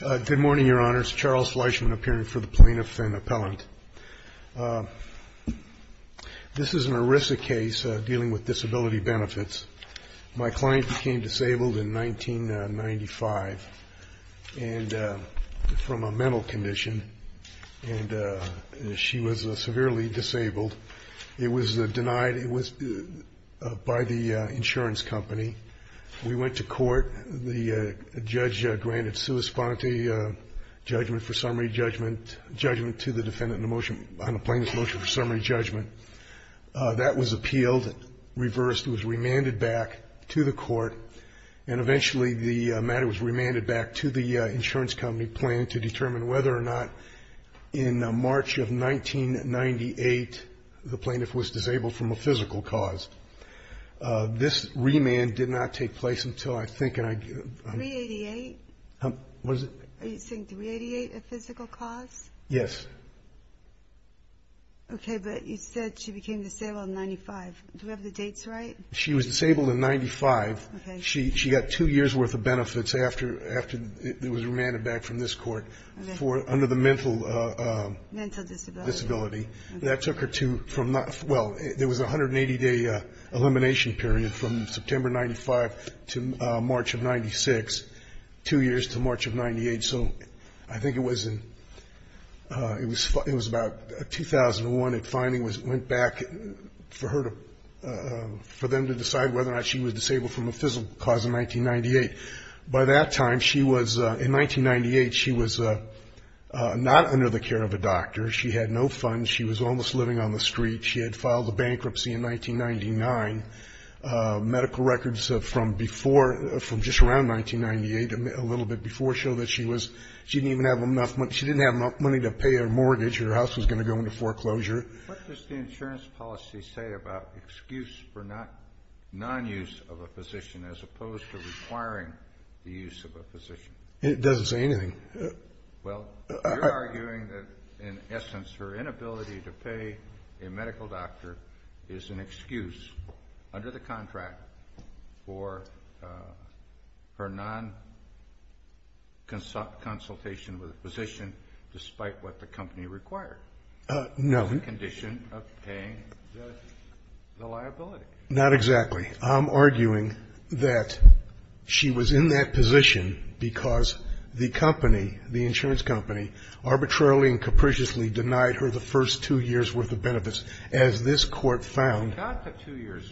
Good morning, Your Honors. Charles Fleischman appearing for the Plaintiff and Appellant. This is an ERISA case dealing with disability benefits. My client became disabled in 1995 from a mental condition, and she was severely disabled. It was denied by the insurance company. We went to court. The judge granted sua sponte, judgment for summary judgment, judgment to the defendant on a plaintiff's motion for summary judgment. That was appealed, reversed, was remanded back to the court, and eventually the matter was remanded back to the insurance company, planning to determine whether or not in March of 1998 the plaintiff was disabled from a physical cause. This remand did not take place until, I think, and I... $388? What is it? Are you saying $388, a physical cause? Yes. Okay, but you said she became disabled in 1995. Do we have the dates right? She was disabled in 1995. She got two years' worth of benefits after it was remanded back from this court under the mental... Mental disability. That took her to... Well, there was a 180-day elimination period from September 95 to March of 96, two years to March of 98. So I think it was in... It was about 2001. It finally went back for her to... For them to decide whether or not she was disabled from a physical cause in 1998. By that time, she was... In 1998, she was not under the care of a doctor. She had no funds. She was almost living on the street. She had filed a bankruptcy in 1999. Medical records from before, from just around 1998, a little bit before, show that she was... She didn't even have enough money to pay her mortgage. Her house was going to go into foreclosure. What does the insurance policy say about excuse for non-use of a physician as opposed to requiring the use of a physician? It doesn't say anything. Well, you're arguing that, in essence, her inability to pay a medical doctor is an excuse under the contract for her non-consultation with a physician despite what the company required. No. It's a condition of paying the liability. Not exactly. I'm arguing that she was in that position because the company, the insurance company, arbitrarily and capriciously denied her the first two years' worth of benefits. As this Court found... She got the two years.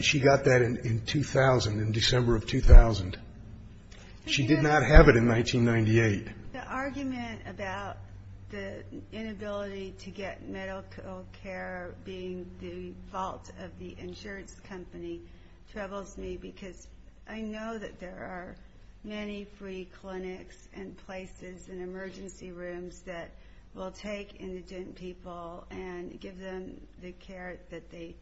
She got that in 2000, in December of 2000. She did not have it in 1998. The argument about the inability to get medical care being the fault of the insurance company troubles me because I know that there are many free clinics and places and emergency rooms that will take indigent people and give them the care that they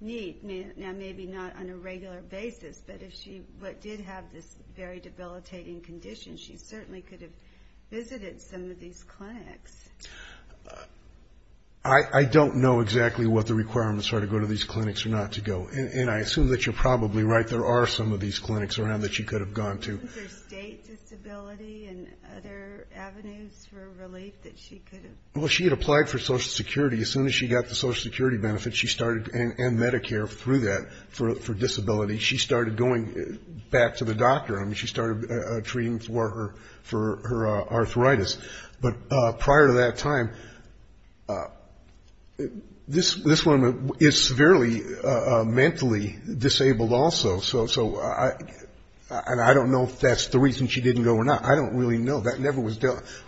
need. Now, maybe not on a regular basis, but if she did have this very debilitating condition, she certainly could have visited some of these clinics. I don't know exactly what the requirements are to go to these clinics or not to go, and I assume that you're probably right. There are some of these clinics around that she could have gone to. Was there state disability and other avenues for relief that she could have... Well, she had applied for Social Security. As soon as she got the Social Security benefits, she started, and Medicare through that for disability, she started going back to the doctor. I mean, she started treating for her arthritis. But prior to that time, this woman is severely mentally disabled also. So I don't know if that's the reason she didn't go or not. I don't really know. That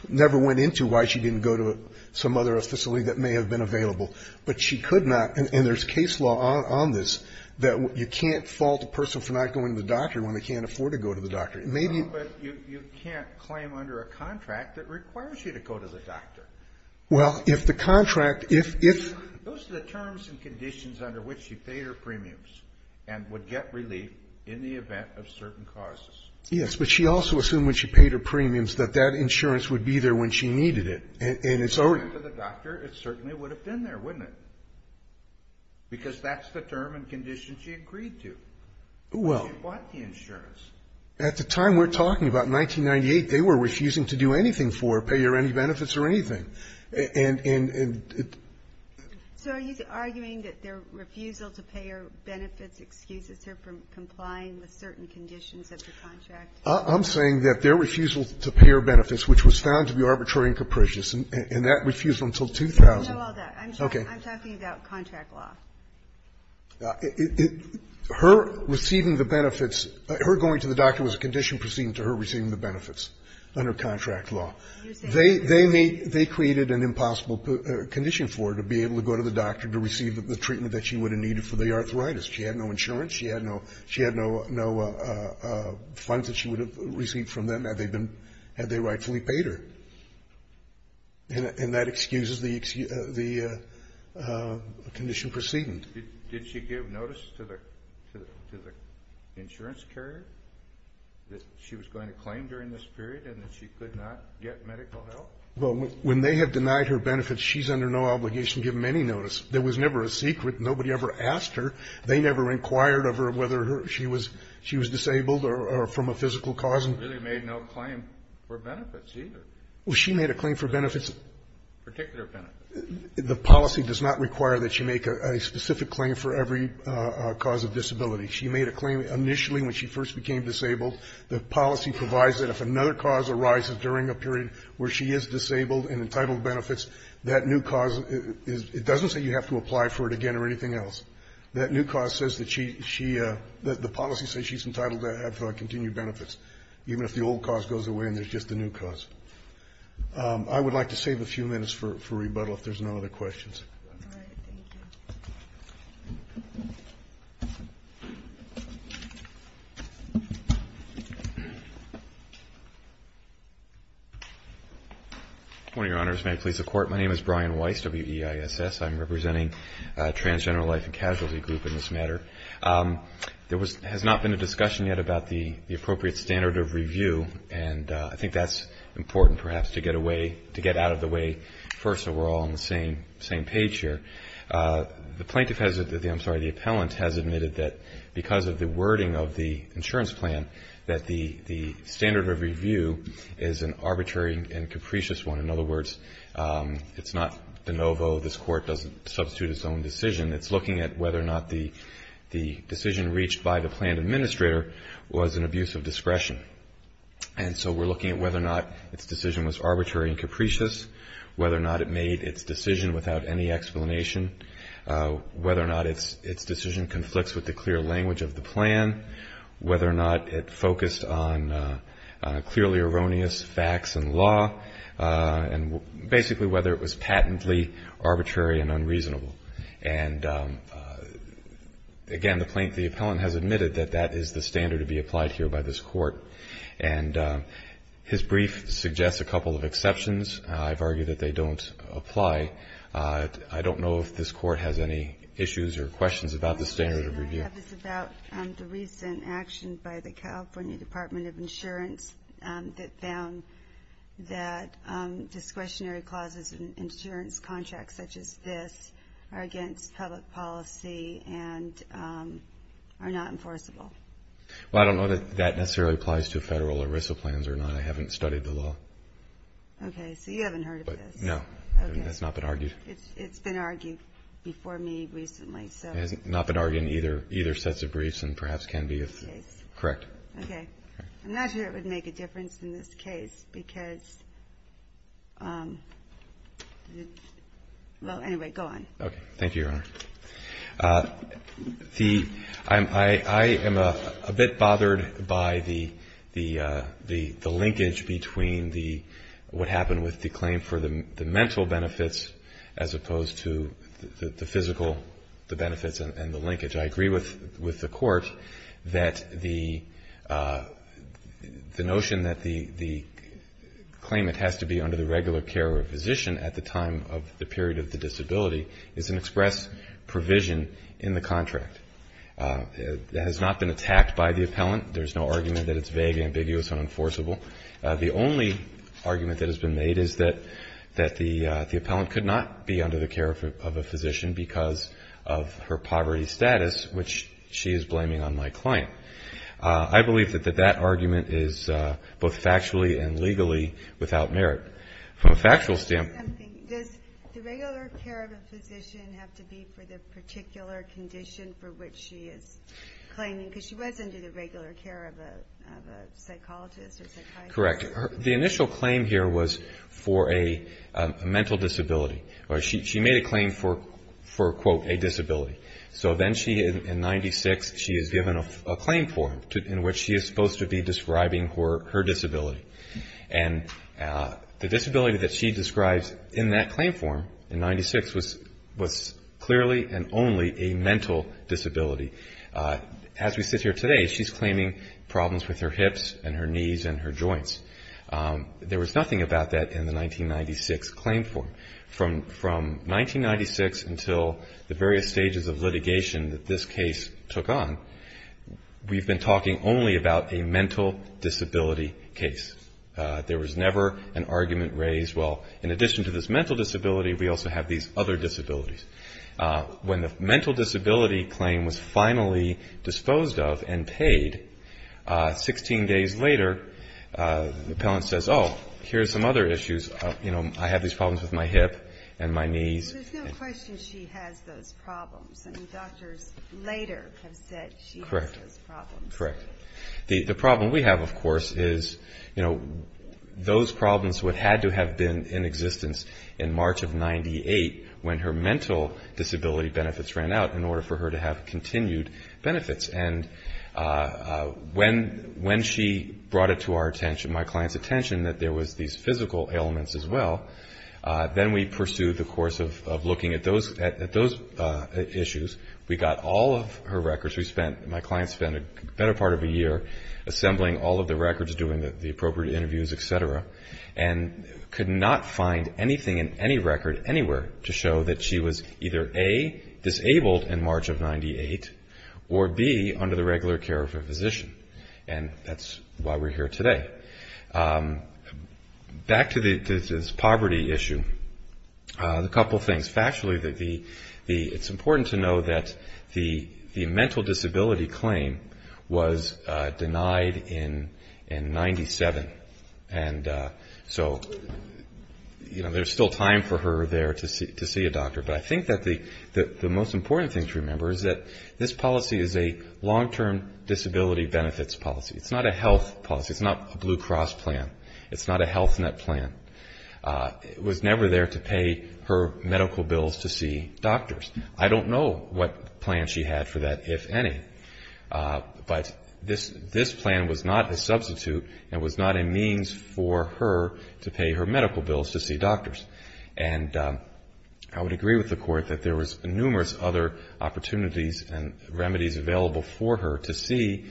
never went into why she didn't go to some other facility that may have been available. But she could not, and there's case law on this, that you can't fault a person for not going to the doctor when they can't afford to go to the doctor. No, but you can't claim under a contract that requires you to go to the doctor. Well, if the contract, if... Those are the terms and conditions under which she paid her premiums and would get relief in the event of certain causes. Yes, but she also assumed when she paid her premiums that that insurance would be there when she needed it, and it's already... If she went to the doctor, it certainly would have been there, wouldn't it? At the time we're talking about, 1998, they were refusing to do anything for her, pay her any benefits or anything. And... So are you arguing that their refusal to pay her benefits excuses her from complying with certain conditions of the contract? I'm saying that their refusal to pay her benefits, which was found to be arbitrary and capricious, and that refusal until 2000... I know all that. Okay. I'm talking about contract law. Her receiving the benefits, her going to the doctor was a condition proceeding to her receiving the benefits under contract law. They may, they created an impossible condition for her to be able to go to the doctor to receive the treatment that she would have needed for the arthritis. She had no insurance. She had no, she had no, no funds that she would have received from them had they been, had they rightfully paid her. And that excuses the, the condition proceeding. Did she give notice to the, to the insurance carrier that she was going to claim during this period and that she could not get medical help? Well, when they have denied her benefits, she's under no obligation to give them any notice. There was never a secret. Nobody ever asked her. They never inquired of her whether she was, she was disabled or from a physical cause. She really made no claim for benefits either. Well, she made a claim for benefits. Particular benefits. The policy does not require that you make a specific claim for every cause of disability. She made a claim initially when she first became disabled. The policy provides that if another cause arises during a period where she is disabled and entitled benefits, that new cause is, it doesn't say you have to apply for it again or anything else. That new cause says that she, she, the policy says she's entitled to have continued benefits, even if the old cause goes away and there's just a new cause. I would like to save a few minutes for rebuttal if there's no other questions. All right. Thank you. One of Your Honors, may I please the Court? My name is Brian Weiss, W-E-I-S-S. I'm representing Transgender Life and Casualty Group in this matter. There was, has not been a discussion yet about the appropriate standard of review, and I think that's important perhaps to get away, to get out of the way first so we're all on the same page here. The plaintiff has, I'm sorry, the appellant has admitted that because of the wording of the insurance plan, that the standard of review is an arbitrary and capricious one. In other words, it's not de novo, this Court doesn't substitute its own decision. It's looking at whether or not the decision reached by the plan administrator was an abuse of discretion. And so we're looking at whether or not its decision was arbitrary and capricious, whether or not it made its decision without any explanation, whether or not its decision conflicts with the clear language of the plan, whether or not it focused on clearly erroneous facts and law, and basically whether it was patently arbitrary and unreasonable. And again, the plaintiff, the appellant, has admitted that that is the standard to be applied here by this Court. And his brief suggests a couple of exceptions. I've argued that they don't apply. I don't know if this Court has any issues or questions about the standard of review. My question I have is about the recent action by the California Department of Insurance that found that discretionary clauses in insurance contracts such as this are against public policy and are not enforceable. Well, I don't know that that necessarily applies to federal ERISA plans or not. I haven't studied the law. Okay, so you haven't heard of this. No, that's not been argued. It's been argued before me recently. It has not been argued in either sets of briefs and perhaps can be if correct. Okay. I'm not sure it would make a difference in this case because, well, anyway, go on. Okay, thank you, Your Honor. I am a bit bothered by the linkage between what happened with the claim for the mental benefits as opposed to the physical benefits and the linkage. I agree with the Court that the notion that the claimant has to be under the regular care of a physician at the time of the period of the disability is an express provision in the contract. It has not been attacked by the appellant. There's no argument that it's vague, ambiguous, unenforceable. The only argument that has been made is that the appellant could not be under the care of a physician because of her poverty status, which she is blaming on my client. I believe that that argument is both factually and legally without merit. From a factual standpoint... Does the regular care of a physician have to be for the particular condition for which she is claiming? Because she was under the regular care of a psychologist or psychiatrist. Correct. The initial claim here was for a mental disability. She made a claim for, quote, a disability. So then she, in 96, she is given a claim form in which she is supposed to be describing her disability. And the disability that she describes in that claim form in 96 was clearly and only a mental disability. As we sit here today, she's claiming problems with her hips and her knees and her joints. There was nothing about that in the 1996 claim form. From 1996 until the various stages of litigation that this case took on, we've been talking only about a mental disability case. There was never an argument raised, well, in addition to this mental disability, we also have these other disabilities. When the mental disability claim was finally disposed of and paid, 16 days later, the appellant says, oh, here's some other issues. You know, I have these problems with my hip and my knees. There's no question she has those problems. I mean, doctors later have said she has those problems. The problem we have, of course, is, you know, those problems would have had to have been in existence in March of 98 when her mental disability benefits ran out in order for her to have continued benefits. And when she brought it to my client's attention that there was these physical ailments as well, then we pursued the course of looking at those issues. We got all of her records. My client spent a better part of a year assembling all of the records, doing the appropriate interviews, et cetera, and could not find anything in any record anywhere to show that she was either, A, disabled in March of 98, or, B, under the regular care of a physician. And that's why we're here today. Back to this poverty issue, a couple things. Factually, it's important to know that the mental disability claim was denied in 97. And so, you know, there's still time for her there to see a doctor. But I think that the most important thing to remember is that this policy is a long-term disability benefits policy. It's not a health policy. It's not a Blue Cross plan. It's not a Health Net plan. It was never there to pay her medical bills to see doctors. I don't know what plan she had for that, if any. But this plan was not a substitute and was not a means for her to pay her medical bills to see doctors. And I would agree with the Court that there was numerous other opportunities and remedies available for her to see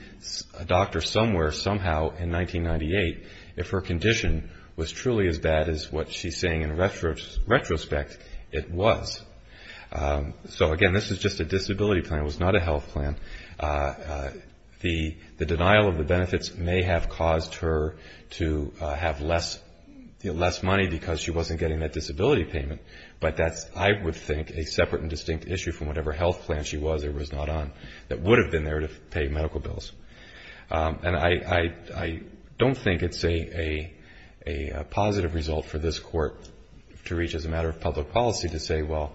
a doctor somewhere, somehow, in 1998, if her condition was truly as bad as what she's saying in retrospect it was. So, again, this is just a disability plan. It was not a health plan. The denial of the benefits may have caused her to have less money because she wasn't getting that disability payment. But that's, I would think, a separate and distinct issue from whatever health plan she was or was not on that would have been there to pay medical bills. And I don't think it's a positive result for this Court to reach as a matter of public policy to say, well,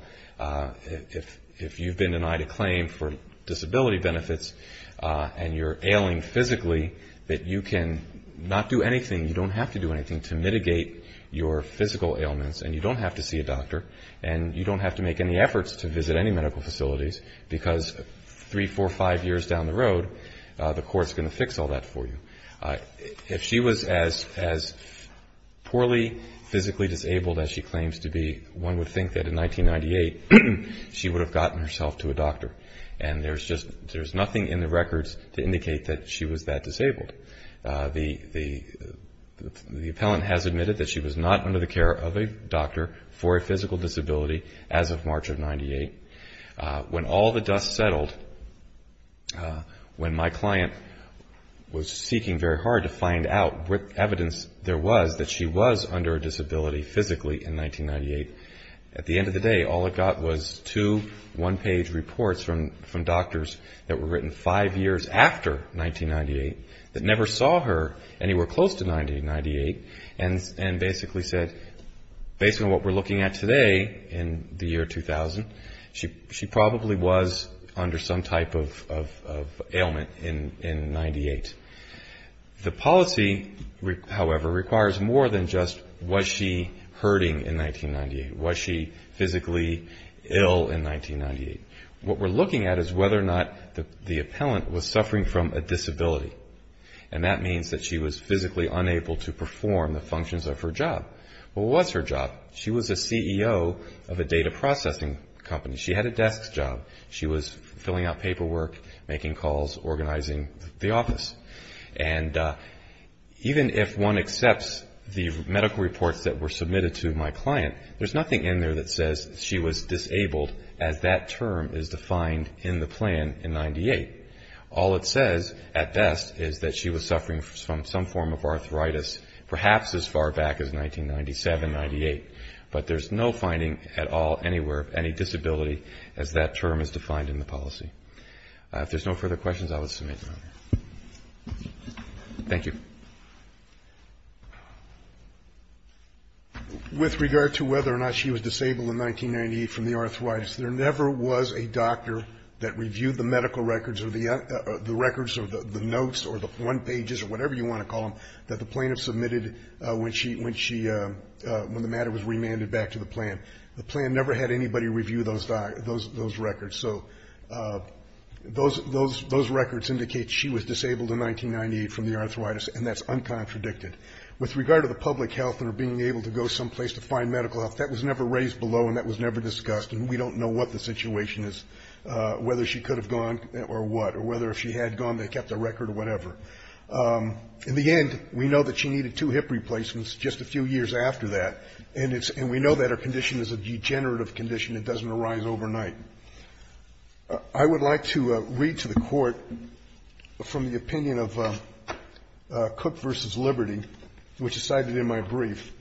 if you've been denied a claim for disability benefits and you're ailing physically, that you can not do anything, you don't have to do anything, to mitigate your physical ailments and you don't have to see a doctor and you don't have to make any efforts to visit any medical facilities because three, four, five years down the road, the Court's going to fix all that for you. If she was as poorly physically disabled as she claims to be, one would think that in 1998 she would have gotten herself to a doctor. And there's nothing in the records to indicate that she was that disabled. The appellant has admitted that she was not under the care of a doctor for a physical disability as of March of 98. When all the dust settled, when my client was seeking very hard to find out what evidence there was that she was under a disability physically in 1998, at the end of the day all it got was two one-page reports from doctors that were written five years after 1998 that never saw her anywhere close to 1998 and basically said, based on what we're looking at today in the year 2000, she probably was under some type of ailment in 98. The policy, however, requires more than just was she hurting in 1998? Was she physically ill in 1998? What we're looking at is whether or not the appellant was suffering from a disability and that means that she was physically unable to perform the functions of her job. What was her job? She was a CEO of a data processing company. She had a desk job. She was filling out paperwork, making calls, organizing the office. And even if one accepts the medical reports that were submitted to my client, there's nothing in there that says she was disabled as that term is defined in the plan in 98. All it says, at best, is that she was suffering from some form of arthritis perhaps as far back as 1997, 98, but there's no finding at all anywhere of any disability as that term is defined in the policy. If there's no further questions, I will submit now. Thank you. With regard to whether or not she was disabled in 1998 from the arthritis, there never was a doctor that reviewed the medical records or the records or the notes or the one pages or whatever you want to call them that the plaintiff submitted when she, when the matter was remanded back to the plan. The plan never had anybody review those records. So those records indicate she was disabled in 1998 from the arthritis, and that's uncontradicted. With regard to the public health and her being able to go someplace to find medical help, that was never raised below and that was never discussed. And we don't know what the situation is, whether she could have gone or what, or whether if she had gone they kept a record or whatever. In the end, we know that she needed two hip replacements just a few years after that, and it's – and we know that her condition is a degenerative condition. It doesn't arise overnight. I would like to read to the Court from the opinion of Cook v. Liberty, which is cited in my brief.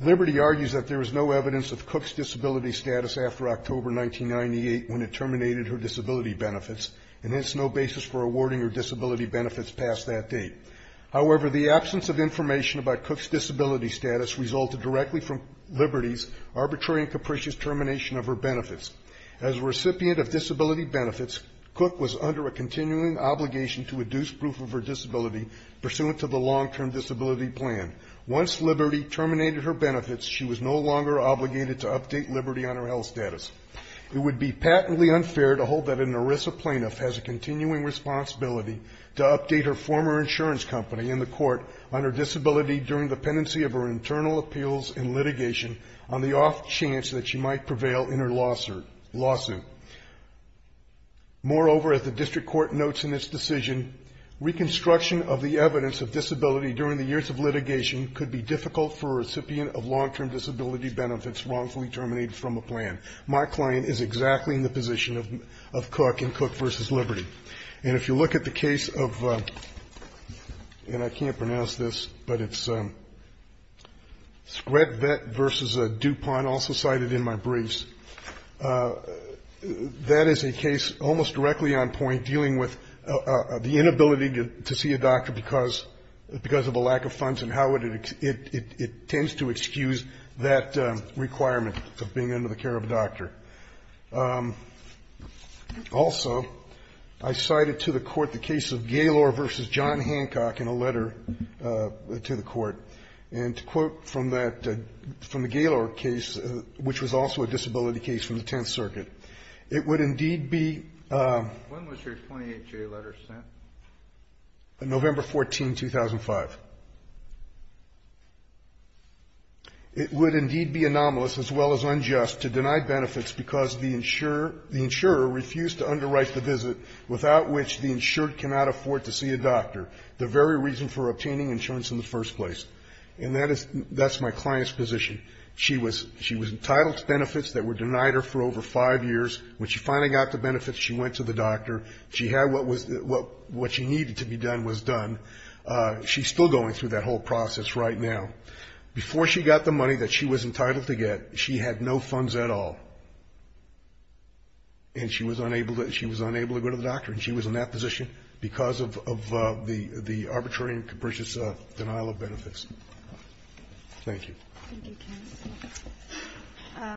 Liberty argues that there is no evidence of Cook's disability status after October 1998 when it terminated her disability benefits, and hence no basis for awarding her disability benefits past that date. However, the absence of information about Cook's disability status resulted directly from Liberty's arbitrary and capricious termination of her benefits. As a recipient of disability benefits, Cook was under a continuing obligation to deduce proof of her disability pursuant to the long-term disability plan. Once Liberty terminated her benefits, she was no longer obligated to update Liberty on her health status. It would be patently unfair to hold that an ERISA plaintiff has a continuing responsibility to update her former insurance company and the Court on her disability during the pendency of her internal appeals and litigation on the off chance that she might prevail in her lawsuit. Moreover, as the District Court notes in its decision, reconstruction of the evidence of disability during the years of litigation could be difficult for a recipient of long-term disability benefits wrongfully terminated from a plan. My client is exactly in the position of Cook and Cook v. Liberty. And if you look at the case of, and I can't pronounce this, but it's Scredvet v. DuPont, also cited in my briefs, that is a case almost directly on point dealing with the inability to see a doctor because of a lack of funds and how it tends to excuse that requirement of being under the care of a doctor. Also, I cited to the Court the case of Gaylor v. John Hancock in a letter to the Court. And to quote from that, from the Gaylor case, which was also a disability case from the Tenth Circuit, it would indeed be the November 14, 2005. It would indeed be anomalous as well as unjust to deny benefits because the insurer refused to underwrite the visit without which the insured cannot afford to see a doctor, the very reason for obtaining insurance in the first place. And that is my client's position. She was entitled to benefits that were denied her for over five years. When she finally got the benefits, she went to the doctor. She had what was, what she needed to be done was done. She's still going through that whole process right now. Before she got the money that she was entitled to get, she had no funds at all. And she was unable to go to the doctor. And she was in that position because of the arbitrary and capricious denial of benefits. Thank you. Thank you, Ken.